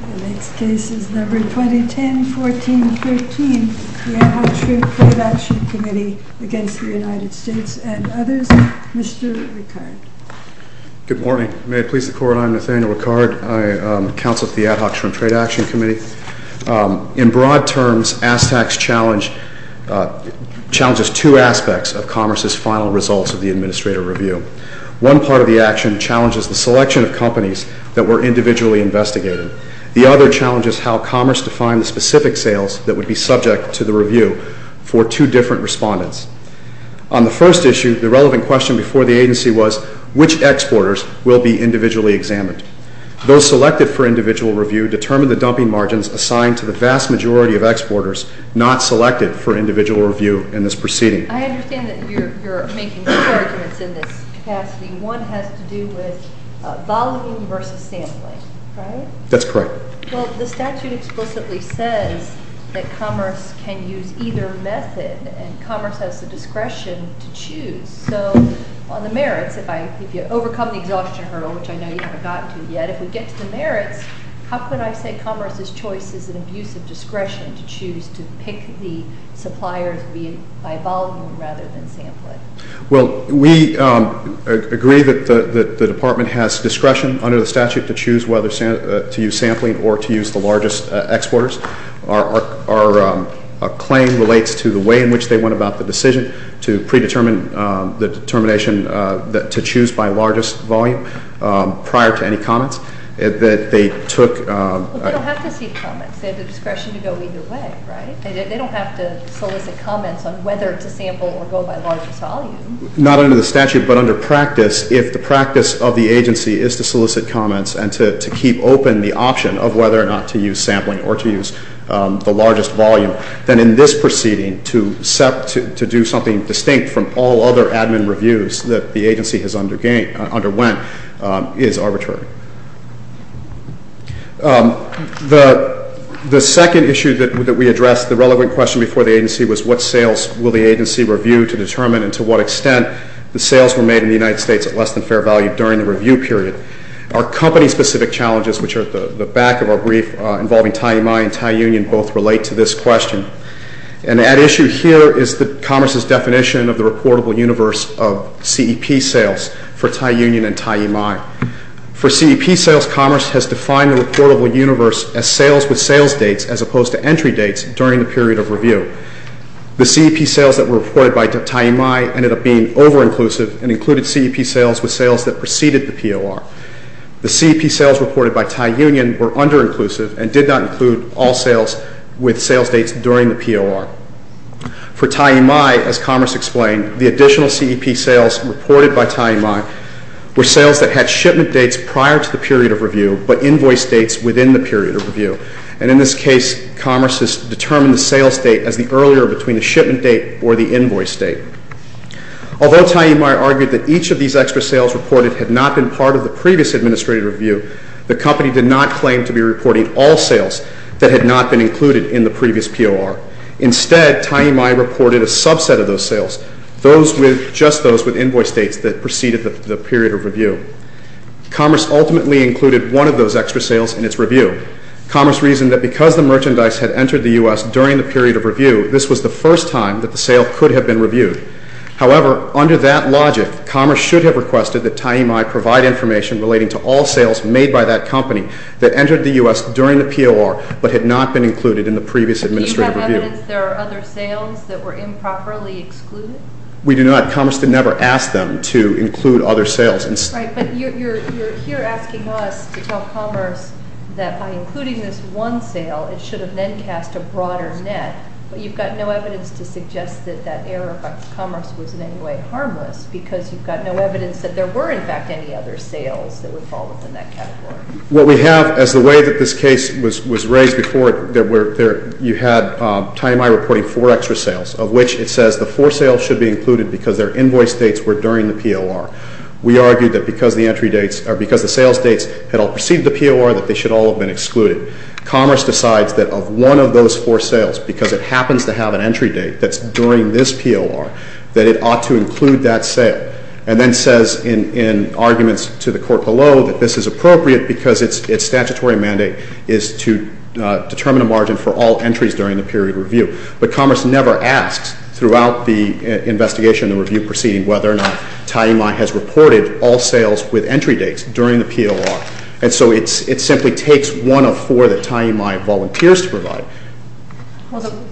And its case is number 2010-14-13. The Ad Hoc Shrimp Trade Action Committee against the United States and others. Mr. Ricard. Good morning. May it please the Court, I am Nathaniel Ricard. I am counsel to the Ad Hoc Shrimp Trade Action Committee. In broad terms, ASTAC's challenge challenges two aspects of Commerce's final results of the Administrator Review. One part of the action challenges the selection of companies that were individually investigated. The other challenges how Commerce defined the specific sales that would be subject to the review for two different respondents. On the first issue, the relevant question before the agency was, which exporters will be individually examined? Those selected for individual review determined the dumping margins assigned to the vast majority of exporters not selected for individual review in this proceeding. I understand that you're making two arguments in this capacity. One has to do with volume versus sampling, right? That's correct. Well, the statute explicitly says that Commerce can use either method, and Commerce has the discretion to choose. So on the merits, if you overcome the exhaustion hurdle, which I know you haven't gotten to yet, if we get to the merits, how can I say Commerce's choice is an abuse of discretion to choose to pick the suppliers by volume rather than sampling? Well, we agree that the Department has discretion under the statute to choose whether to use sampling or to use the largest exporters. Our claim relates to the way in which they went about the decision to predetermine the determination to choose by largest volume prior to any comments. Well, they don't have to see comments. They have the discretion to go either way, right? They don't have to solicit comments on whether to sample or go by largest volume. Not under the statute, but under practice, if the practice of the agency is to solicit comments and to keep open the option of whether or not to use sampling or to use the largest volume, then in this proceeding, to do something distinct from all other admin reviews that the agency has underwent is arbitrary. The second issue that we addressed, the relevant question before the agency, was what sales will the agency review to determine and to what extent the sales were made in the United States at less than fair value during the review period. Our company-specific challenges, which are at the back of our brief involving TIEMEI and TIE-Union, both relate to this question. And at issue here is Commerce's definition of the reportable universe of CEP sales for TIE-Union and TIEMEI. For CEP sales, Commerce has defined the reportable universe as sales with sales dates as opposed to entry dates during the period of review. The CEP sales that were reported by TIEMEI ended up being over-inclusive and included CEP sales with sales that preceded the POR. The CEP sales reported by TIE-Union were under-inclusive and did not include all sales with sales dates during the POR. For TIEMEI, as Commerce explained, the additional CEP sales reported by TIEMEI were sales that had shipment dates prior to the period of review, but invoice dates within the period of review. And in this case, Commerce has determined the sales date as the earlier between the shipment date or the invoice date. Although TIEMEI argued that each of these extra sales reported had not been part of the previous administrative review, the company did not claim to be reporting all sales that had not been included in the previous POR. Instead, TIEMEI reported a subset of those sales, just those with invoice dates that preceded the period of review. Commerce ultimately included one of those extra sales in its review. Commerce reasoned that because the merchandise had entered the U.S. during the period of review, this was the first time that the sale could have been reviewed. However, under that logic, Commerce should have requested that TIEMEI provide information relating to all sales made by that company that entered the U.S. during the POR but had not been included in the previous administrative review. Do you have evidence there are other sales that were improperly excluded? We do not. Commerce never asked them to include other sales. Right, but you're here asking us to tell Commerce that by including this one sale, it should have then cast a broader net, but you've got no evidence to suggest that that error by Commerce was in any way harmless because you've got no evidence that there were, in fact, any other sales that would fall within that category. What we have, as the way that this case was raised before, you had TIEMEI reporting four extra sales, of which it says the four sales should be included because their invoice dates were during the POR. We argued that because the entry dates, or because the sales dates had all preceded the POR, that they should all have been excluded. Commerce decides that of one of those four sales, because it happens to have an entry date that's during this POR, that it ought to include that sale, and then says in arguments to the court below that this is appropriate because its statutory mandate is to determine a margin for all entries during the period of review. But Commerce never asks, throughout the investigation and review proceeding, whether or not TIEMEI has reported all sales with entry dates during the POR. And so it simply takes one of four that TIEMEI volunteers to provide. Well, the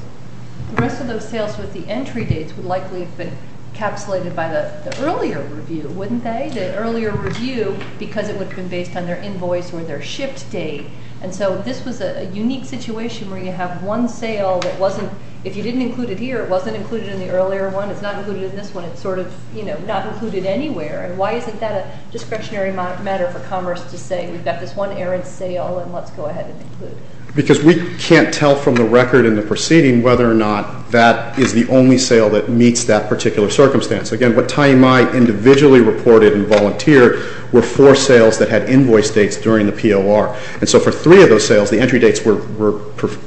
rest of those sales with the entry dates would likely have been encapsulated by the earlier review, wouldn't they? The earlier review, because it would have been based on their invoice or their shift date. And so this was a unique situation where you have one sale that wasn't, if you didn't include it here, it wasn't included in the earlier one. It's not included in this one. It's sort of, you know, not included anywhere. And why isn't that a discretionary matter for Commerce to say we've got this one errant sale, and let's go ahead and include it? Because we can't tell from the record in the proceeding whether or not that is the only sale that meets that particular circumstance. Again, what TIEMEI individually reported and volunteered were four sales that had invoice dates during the POR. And so for three of those sales, the entry dates were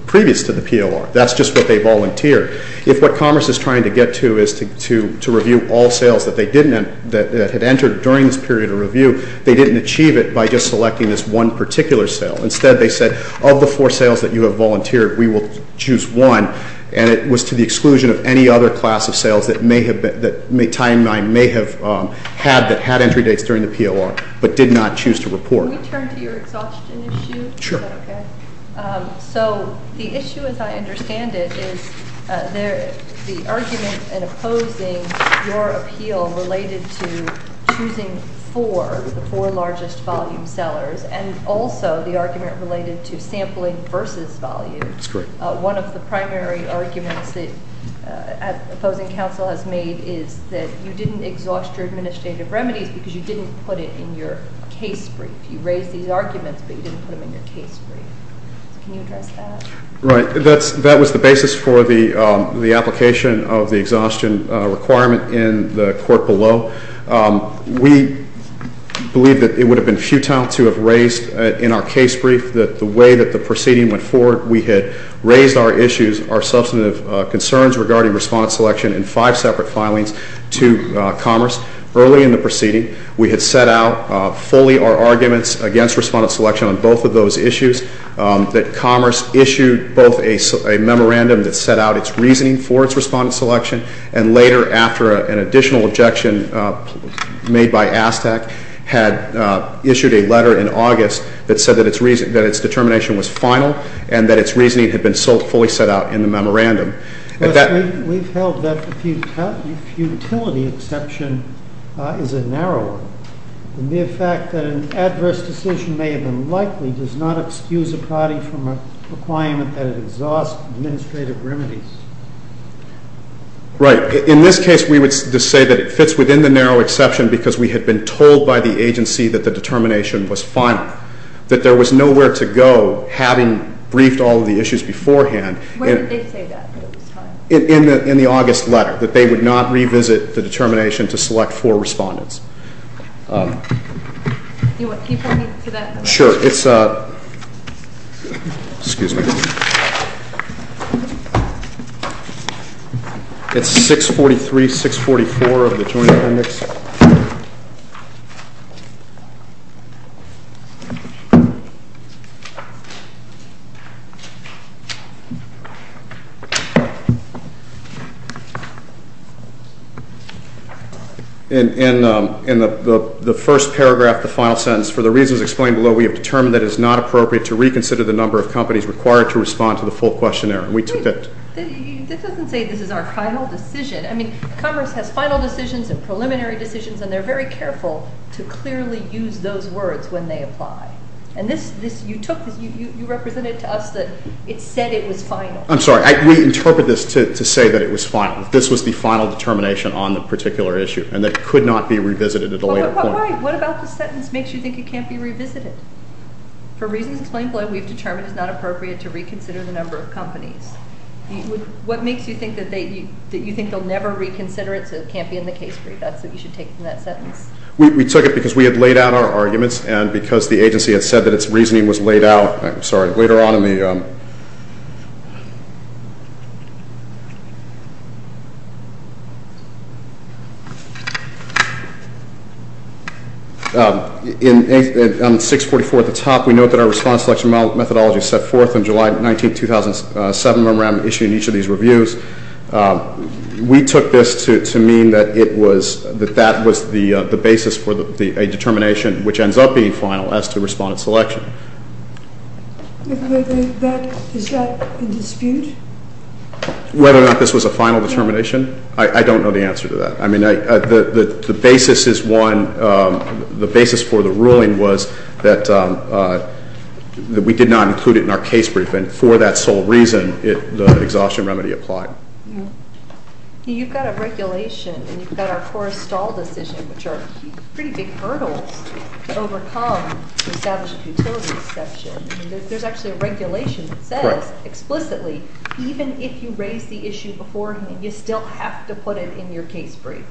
previous to the POR. That's just what they volunteered. If what Commerce is trying to get to is to review all sales that they didn't, that had entered during this period of review, they didn't achieve it by just selecting this one particular sale. Instead, they said of the four sales that you have volunteered, we will choose one. And it was to the exclusion of any other class of sales that TIEMEI may have had that had entry dates during the POR but did not choose to report. Can we turn to your exhaustion issue? Sure. Is that okay? So the issue, as I understand it, is the argument in opposing your appeal related to choosing four, the four largest volume sellers, and also the argument related to sampling versus volume. That's correct. One of the primary arguments that opposing counsel has made is that you didn't exhaust your administrative remedies because you didn't put it in your case brief. You raised these arguments, but you didn't put them in your case brief. Can you address that? Right. That was the basis for the application of the exhaustion requirement in the court below. We believe that it would have been futile to have raised in our case brief that the way that the proceeding went forward, we had raised our issues, our substantive concerns regarding respondent selection in five separate filings to Commerce. Early in the proceeding, we had set out fully our arguments against respondent selection on both of those issues, that Commerce issued both a memorandum that set out its reasoning for its respondent selection, and later, after an additional objection made by ASTAC, had issued a letter in August that said that its determination was final and that its reasoning had been fully set out in the memorandum. We've held that the futility exception is a narrow one. The mere fact that an adverse decision may have been likely does not excuse a party from a requirement that it exhausts administrative remedies. Right. In this case, we would say that it fits within the narrow exception because we had been told by the agency that the determination was final, that there was nowhere to go having briefed all of the issues beforehand. When did they say that? In the August letter, that they would not revisit the determination to select four respondents. Can you point me to that? Sure. It's 643-644 of the Joint Appendix. In the first paragraph, the final sentence, for the reasons explained below, we have determined that it is not appropriate to reconsider the number of companies required to respond to the full questionnaire. This doesn't say this is our final decision. I mean, Congress has final decisions and preliminary decisions, and they're very careful to clearly use those words when they apply. And you represented to us that it said it was final. I'm sorry. We interpret this to say that it was final. This was the final determination on the particular issue, and it could not be revisited at a later point. What about the sentence makes you think it can't be revisited? For reasons explained below, we've determined it's not appropriate to reconsider the number of companies. What makes you think that you think they'll never reconsider it so it can't be in the case brief? That's what you should take from that sentence. We took it because we had laid out our arguments and because the agency had said that its reasoning was laid out. I'm sorry. Later on in the 644 at the top, we note that our response selection methodology is set forth in July 19, 2007. Remember, I'm issuing each of these reviews. We took this to mean that that was the basis for a determination which ends up being final as to respondent selection. Is that in dispute? Whether or not this was a final determination, I don't know the answer to that. I mean, the basis is one, the basis for the ruling was that we did not include it in our case brief, and for that sole reason, the exhaustion remedy applied. You've got a regulation, and you've got our forestall decision, which are pretty big hurdles to overcome to establish a futility exception. There's actually a regulation that says explicitly even if you raise the issue beforehand, you still have to put it in your case brief.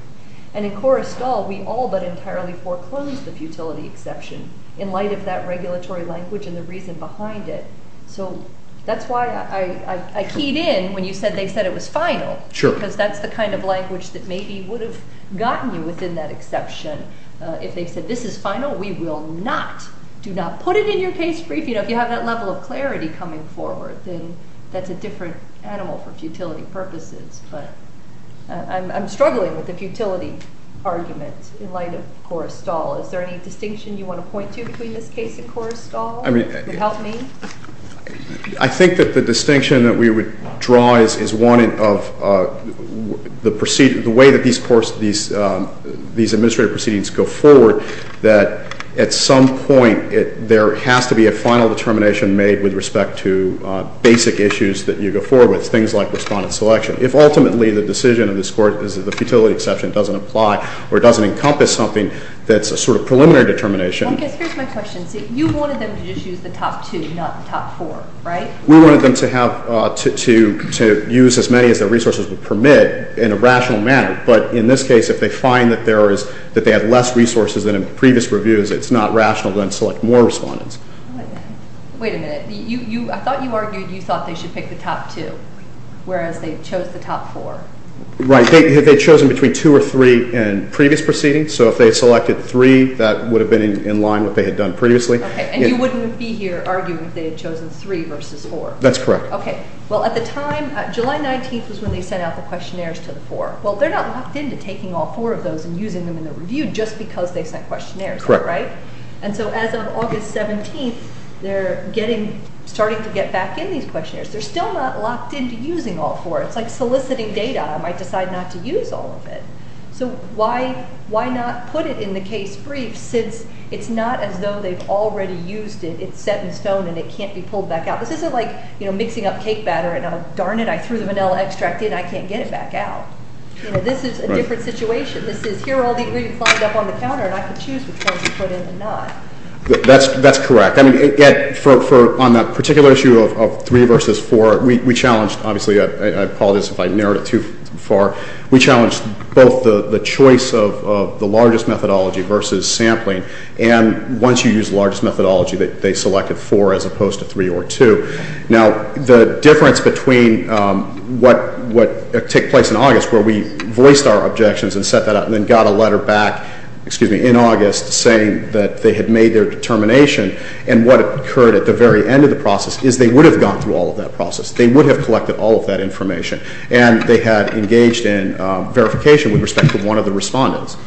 And in Coruscant, we all but entirely foreclosed the futility exception in light of that regulatory language and the reason behind it. So that's why I keyed in when you said they said it was final because that's the kind of language that maybe would have gotten you within that exception. If they said this is final, we will not, do not put it in your case brief. You know, if you have that level of clarity coming forward, then that's a different animal for futility purposes. But I'm struggling with the futility argument in light of Coruscant. Is there any distinction you want to point to between this case and Coruscant that would help me? I think that the distinction that we would draw is one of the way that these administrative proceedings go forward, that at some point there has to be a final determination made with respect to basic issues that you go forward with, things like respondent selection. If ultimately the decision of this court is that the futility exception doesn't apply or doesn't encompass something that's a sort of preliminary determination. I guess here's my question. You wanted them to just use the top two, not the top four, right? We wanted them to use as many as their resources would permit in a rational manner. But in this case, if they find that they have less resources than in previous reviews, it's not rational to then select more respondents. Wait a minute. I thought you argued you thought they should pick the top two, whereas they chose the top four. Right. They had chosen between two or three in previous proceedings. So if they selected three, that would have been in line with what they had done previously. Okay. And you wouldn't be here arguing if they had chosen three versus four. That's correct. Okay. Well, at the time, July 19th was when they sent out the questionnaires to the four. Well, they're not locked into taking all four of those and using them in the review just because they sent questionnaires, right? Correct. And so as of August 17th, they're starting to get back in these questionnaires. They're still not locked into using all four. It's like soliciting data. I might decide not to use all of it. So why not put it in the case brief since it's not as though they've already used it, it's set in stone, and it can't be pulled back out? This isn't like, you know, mixing up cake batter and, darn it, I threw the vanilla extract in, I can't get it back out. You know, this is a different situation. This is, here are all the ingredients lined up on the counter, and I can choose which ones to put in and not. That's correct. I mean, on that particular issue of three versus four, we challenged, obviously, I apologize if I narrowed it too far. We challenged both the choice of the largest methodology versus sampling, and once you use the largest methodology, they selected four as opposed to three or two. Now, the difference between what took place in August where we voiced our objections and set that up and then got a letter back in August saying that they had made their determination and what occurred at the very end of the process is they would have gone through all of that process. They would have collected all of that information. And they had engaged in verification with respect to one of the respondents.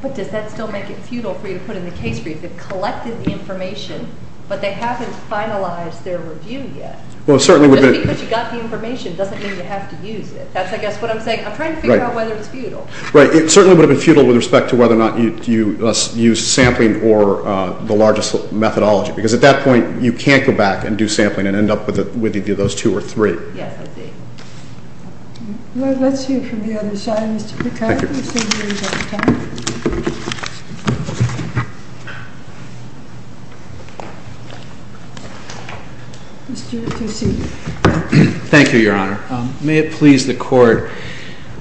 But does that still make it futile for you to put in the case brief? They've collected the information, but they haven't finalized their review yet. Just because you got the information doesn't mean you have to use it. That's, I guess, what I'm saying. I'm trying to figure out whether it's futile. Right. It certainly would have been futile with respect to whether or not you used sampling or the largest methodology because at that point you can't go back and do sampling and end up with either those two or three. Yes, I see. Well, let's hear from the other side. Mr. McCarthy. Thank you. Thank you, Your Honor. May it please the Court.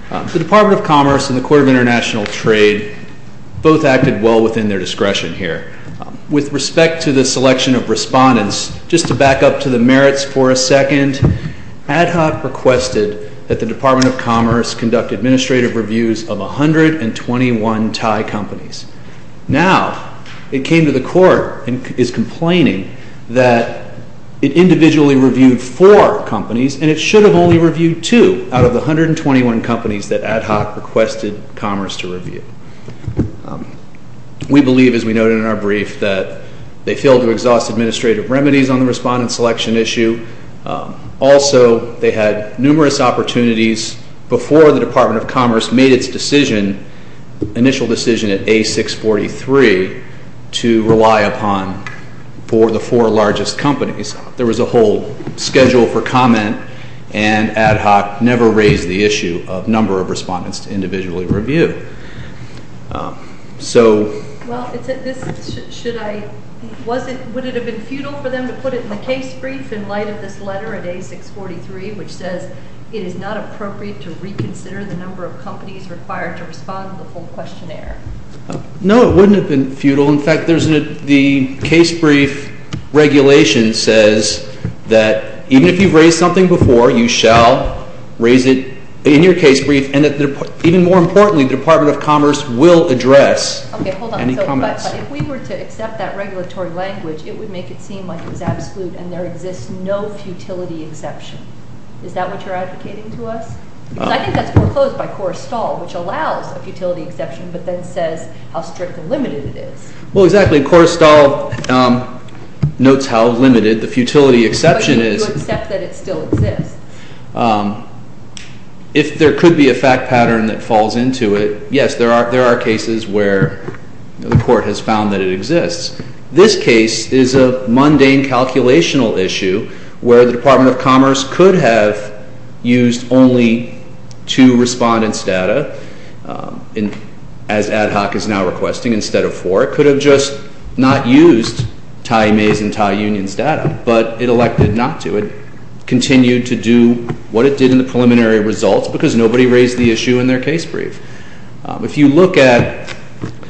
The Department of Commerce and the Court of International Trade both acted well within their discretion here. With respect to the selection of respondents, just to back up to the merits for a second, Ad Hoc requested that the Department of Commerce conduct administrative reviews of 121 Thai companies. Now it came to the Court and is complaining that it individually reviewed four companies and it should have only reviewed two out of the 121 companies that Ad Hoc requested Commerce to review. We believe, as we noted in our brief, that they failed to exhaust administrative remedies on the respondent selection issue. Also, they had numerous opportunities before the Department of Commerce made its initial decision at A643 to rely upon for the four largest companies. There was a whole schedule for comment and Ad Hoc never raised the issue of number of respondents to individually review. Would it have been futile for them to put it in the case brief in light of this letter at A643, which says it is not appropriate to reconsider the number of companies required to respond to the full questionnaire? No, it wouldn't have been futile. In fact, the case brief regulation says that even if you've raised something before, you shall raise it in your case brief and, even more importantly, the Department of Commerce will address any comments. Okay, hold on. If we were to accept that regulatory language, it would make it seem like it was absolute and there exists no futility exception. Is that what you're advocating to us? Because I think that's foreclosed by Korrestahl, which allows a futility exception but then says how strict and limited it is. Well, exactly. Korrestahl notes how limited the futility exception is. Would you accept that it still exists? If there could be a fact pattern that falls into it, yes, there are cases where the court has found that it exists. This case is a mundane calculational issue where the Department of Commerce could have used only two respondents' data, as Ad Hoc is now requesting, instead of four. It could have just not used Tye Mays' and Tye Union's data, but it elected not to. It continued to do what it did in the preliminary results because nobody raised the issue in their case brief. If you look at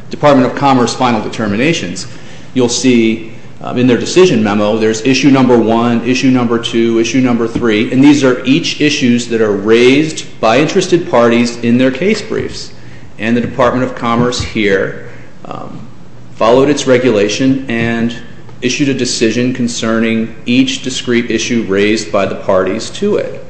Department of Commerce final determinations, you'll see in their decision memo there's issue number one, issue number two, issue number three, and these are each issues that are raised by interested parties in their case briefs. And the Department of Commerce here followed its regulation and issued a decision concerning each discrete issue raised by the parties to it.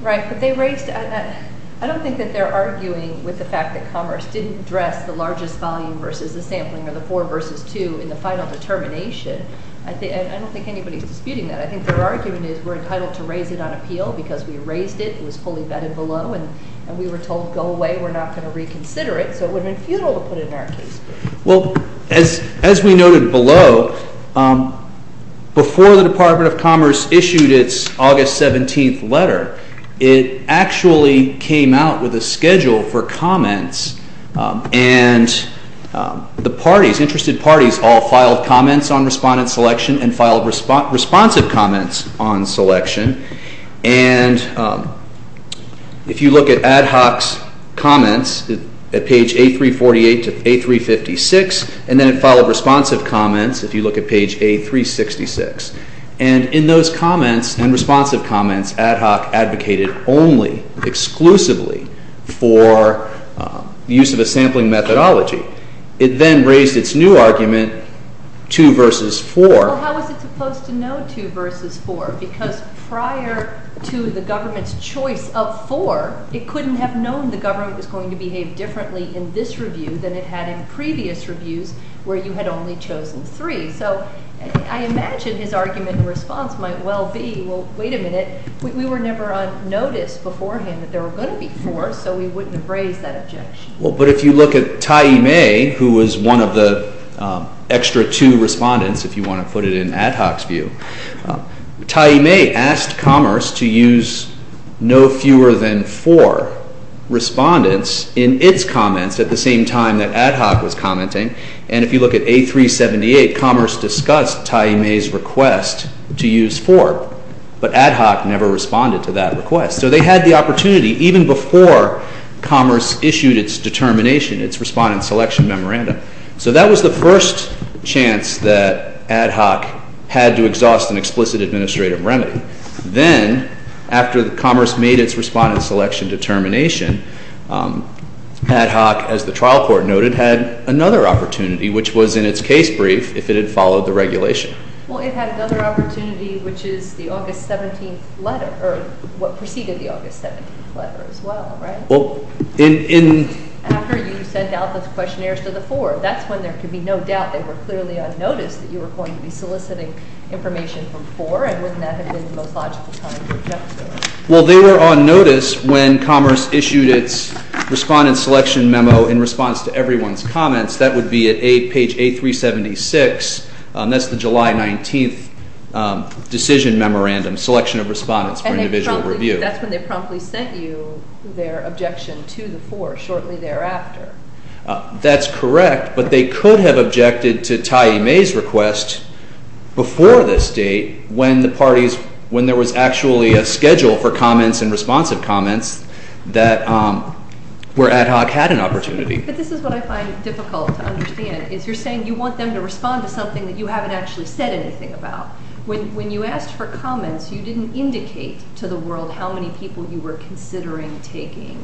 Right, but they raised that. I don't think that they're arguing with the fact that Commerce didn't address the largest volume versus the sampling or the four versus two in the final determination. I don't think anybody's disputing that. I think their argument is we're entitled to raise it on appeal because we raised it, it was fully vetted below, and we were told go away, we're not going to reconsider it, so it would have been futile to put it in our case brief. Well, as we noted below, before the Department of Commerce issued its August 17th letter, it actually came out with a schedule for comments, and the parties, interested parties, all filed comments on respondent selection and filed responsive comments on selection. And if you look at Ad Hoc's comments at page A348 to A356, and then it followed responsive comments if you look at page A366. And in those comments and responsive comments, Ad Hoc advocated only, exclusively, for use of a sampling methodology. It then raised its new argument, two versus four. Well, how is it supposed to know two versus four? Because prior to the government's choice of four, it couldn't have known the government was going to behave differently in this review than it had in previous reviews where you had only chosen three. So I imagine his argument and response might well be, well, wait a minute, we were never on notice beforehand that there were going to be four, so we wouldn't have raised that objection. Well, but if you look at Taiyi Mei, who was one of the extra two respondents, if you want to put it in Ad Hoc's view, Taiyi Mei asked Commerce to use no fewer than four respondents in its comments at the same time that Ad Hoc was commenting. And if you look at A378, Commerce discussed Taiyi Mei's request to use four, but Ad Hoc never responded to that request. So they had the opportunity even before Commerce issued its determination, its Respondent Selection Memorandum. So that was the first chance that Ad Hoc had to exhaust an explicit administrative remedy. Then, after Commerce made its Respondent Selection determination, Ad Hoc, as the trial court noted, had another opportunity, which was in its case brief if it had followed the regulation. Well, it had another opportunity, which is the August 17th letter, or what preceded the August 17th letter as well, right? Well, in— After you sent out those questionnaires to the four, that's when there could be no doubt they were clearly on notice that you were going to be soliciting information from four, and wouldn't that have been the most logical time to object to it? Well, they were on notice when Commerce issued its Respondent Selection Memo in response to everyone's comments. That would be at page A376. That's the July 19th decision memorandum, Selection of Respondents for Individual Review. And that's when they promptly sent you their objection to the four shortly thereafter. That's correct, but they could have objected to Tyee May's request before this date when the parties—when there was actually a schedule for comments and responsive comments that—where Ad Hoc had an opportunity. But this is what I find difficult to understand, is you're saying you want them to respond to something that you haven't actually said anything about. When you asked for comments, you didn't indicate to the world how many people you were considering taking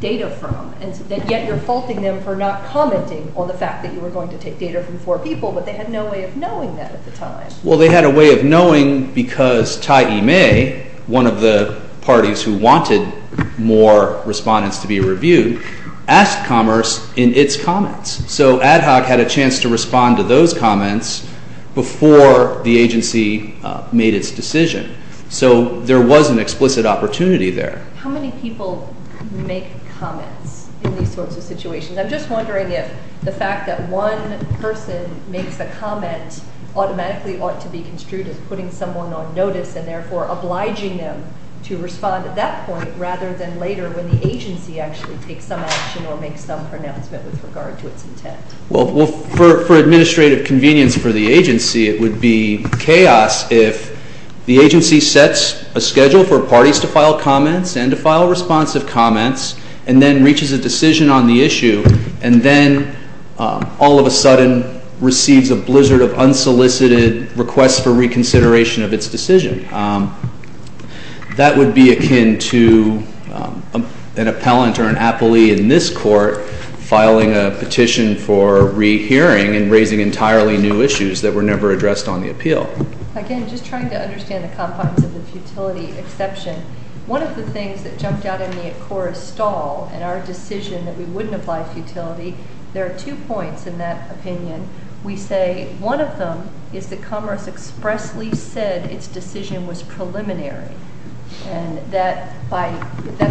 data from, and yet you're faulting them for not commenting on the fact that you were going to take data from four people, but they had no way of knowing that at the time. Well, they had a way of knowing because Tyee May, one of the parties who wanted more respondents to be reviewed, asked Commerce in its comments. So Ad Hoc had a chance to respond to those comments before the agency made its decision. So there was an explicit opportunity there. How many people make comments in these sorts of situations? I'm just wondering if the fact that one person makes a comment automatically ought to be construed as putting someone on notice and therefore obliging them to respond at that point rather than later when the agency actually takes some action or makes some pronouncement with regard to its intent. Well, for administrative convenience for the agency, it would be chaos if the agency sets a schedule for parties to file comments and to file responsive comments and then reaches a decision on the issue and then all of a sudden receives a blizzard of unsolicited requests for reconsideration of its decision. That would be akin to an appellant or an appellee in this court filing a petition for rehearing and raising entirely new issues that were never addressed on the appeal. Again, just trying to understand the confines of the futility exception, one of the things that jumped out at me at Cora's stall in our decision that we wouldn't apply futility, there are two points in that opinion. We say one of them is that Commerce expressly said its decision was preliminary and that's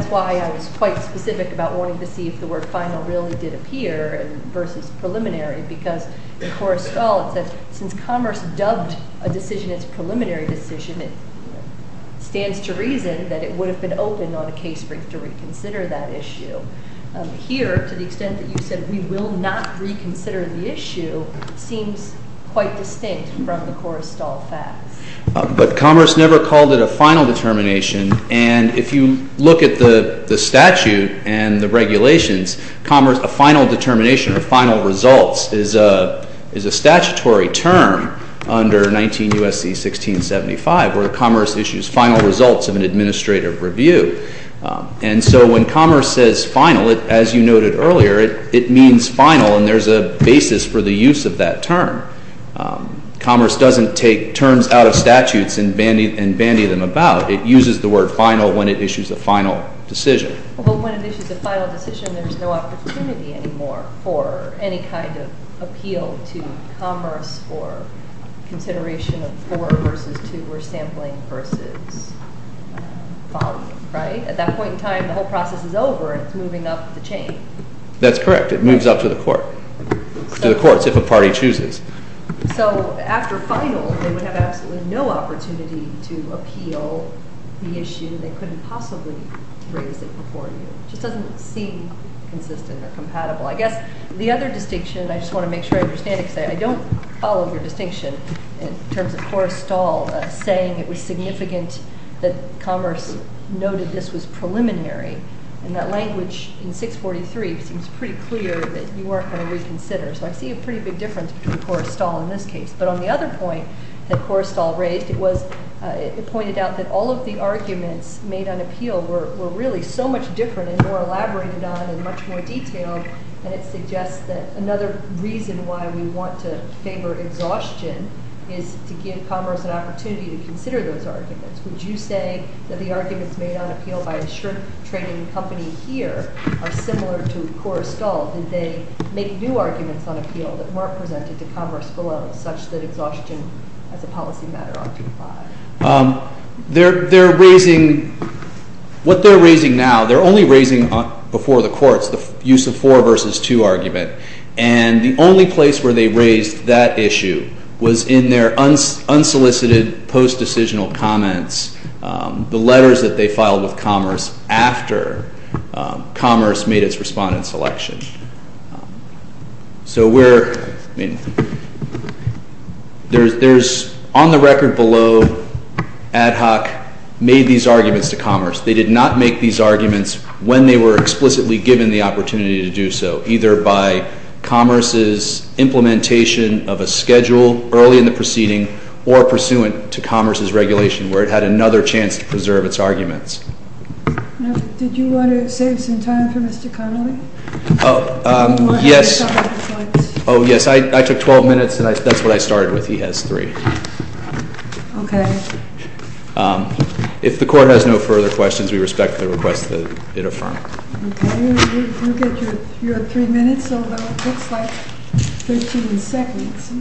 why I was quite specific about wanting to see if the word final really did appear versus preliminary because in Cora's stall it says since Commerce dubbed a decision as a preliminary decision, it stands to reason that it would have been open on a case brief to reconsider that issue. Here, to the extent that you said we will not reconsider the issue, seems quite distinct from the Cora's stall facts. But Commerce never called it a final determination and if you look at the statute and the regulations, a final determination or final results is a statutory term under 19 U.S.C. 1675 where Commerce issues final results of an administrative review. And so when Commerce says final, as you noted earlier, it means final and there's a basis for the use of that term. Commerce doesn't take terms out of statutes and bandy them about. It uses the word final when it issues a final decision. Well, when it issues a final decision, there's no opportunity anymore for any kind of appeal to Commerce or consideration of four versus two or sampling versus following, right? At that point in time, the whole process is over and it's moving up the chain. That's correct. It moves up to the courts if a party chooses. So after final, they would have absolutely no opportunity to appeal the issue. They couldn't possibly raise it before you. It just doesn't seem consistent or compatible. I guess the other distinction, I just want to make sure I understand it because I don't follow your distinction in terms of Korrestal saying it was significant that Commerce noted this was preliminary. And that language in 643 seems pretty clear that you weren't going to reconsider. So I see a pretty big difference between Korrestal in this case. But on the other point that Korrestal raised, it pointed out that all of the arguments made on appeal were really so much different and more elaborated on and much more detailed, and it suggests that another reason why we want to favor exhaustion is to give Commerce an opportunity to consider those arguments. Would you say that the arguments made on appeal by a shrink-training company here are similar to Korrestal? Did they make new arguments on appeal that weren't presented to Commerce below such that exhaustion as a policy matter occurred? What they're raising now, they're only raising before the courts the use of four versus two argument. And the only place where they raised that issue was in their unsolicited post-decisional comments, the letters that they filed with Commerce after Commerce made its respondent selection. So we're, I mean, there's on the record below, Ad Hoc made these arguments to Commerce. They did not make these arguments when they were explicitly given the opportunity to do so, either by Commerce's implementation of a schedule early in the proceeding or pursuant to Commerce's regulation where it had another chance to preserve its arguments. Now, did you want to save some time for Mr. Connolly? Yes. Oh, yes, I took 12 minutes, and that's what I started with. He has three. Okay. If the Court has no further questions, we respect the request that it affirm. Okay. You have three minutes, although it looks like 13 seconds.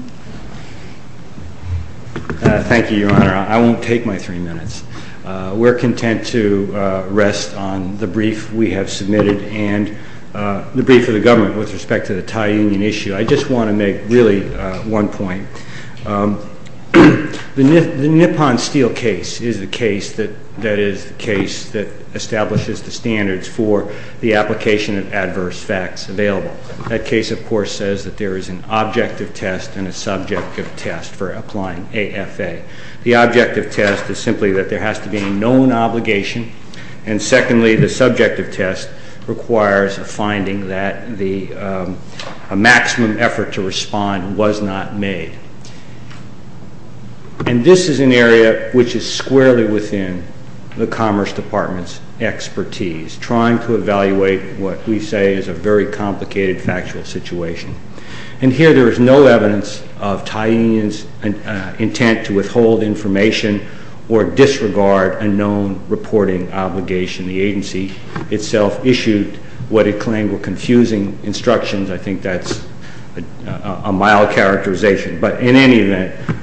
Thank you, Your Honor. I won't take my three minutes. We're content to rest on the brief we have submitted and the brief of the government with respect to the Thai Union issue. I just want to make really one point. The Nippon Steel case is the case that establishes the standards for the application of adverse facts available. That case, of course, says that there is an objective test and a subjective test for applying AFA. The objective test is simply that there has to be a known obligation, and secondly, the subjective test requires a finding that a maximum effort to respond was not made. And this is an area which is squarely within the Commerce Department's expertise, trying to evaluate what we say is a very complicated factual situation. And here there is no evidence of Thai Union's intent to withhold information or disregard a known reporting obligation. The agency itself issued what it claimed were confusing instructions. I think that's a mild characterization. But in any event,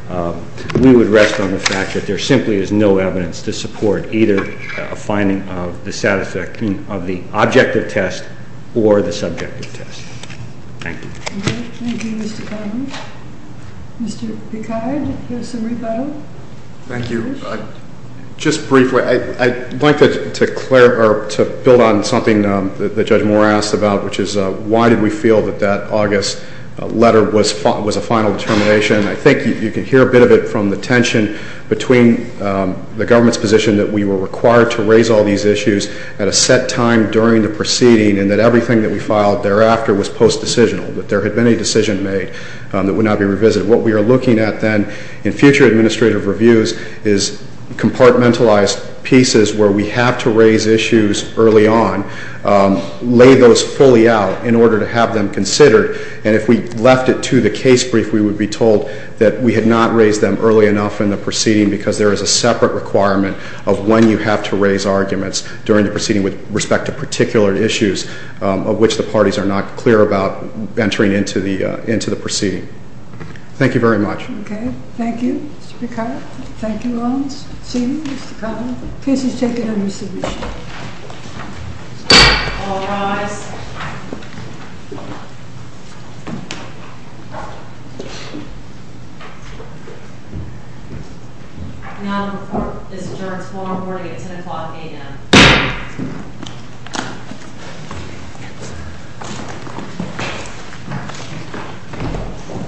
we would rest on the fact that there simply is no evidence to support either a finding of the objective test or the subjective test. Thank you. Thank you, Mr. Cotton. Mr. Picard, do you have some rebuttal? Thank you. Just briefly, I'd like to build on something that Judge Moore asked about, which is why did we feel that that August letter was a final determination? I think you can hear a bit of it from the tension between the government's position that we were required to raise all these issues at a set time during the proceeding and that everything that we filed thereafter was post-decisional, that there had been a decision made that would not be revisited. What we are looking at then in future administrative reviews is compartmentalized pieces where we have to raise issues early on, lay those fully out in order to have them considered. And if we left it to the case brief, we would be told that we had not raised them early enough in the proceeding because there is a separate requirement of when you have to raise arguments during the proceeding with respect to particular issues of which the parties are not clear about entering into the proceeding. Thank you very much. Okay. Thank you, Mr. Picard. Thank you, Lawrence. See you, Mr. Cotton. Please take your new submission. All rise. Thank you. Now to perform this adjournment's formal reporting at 10 o'clock a.m.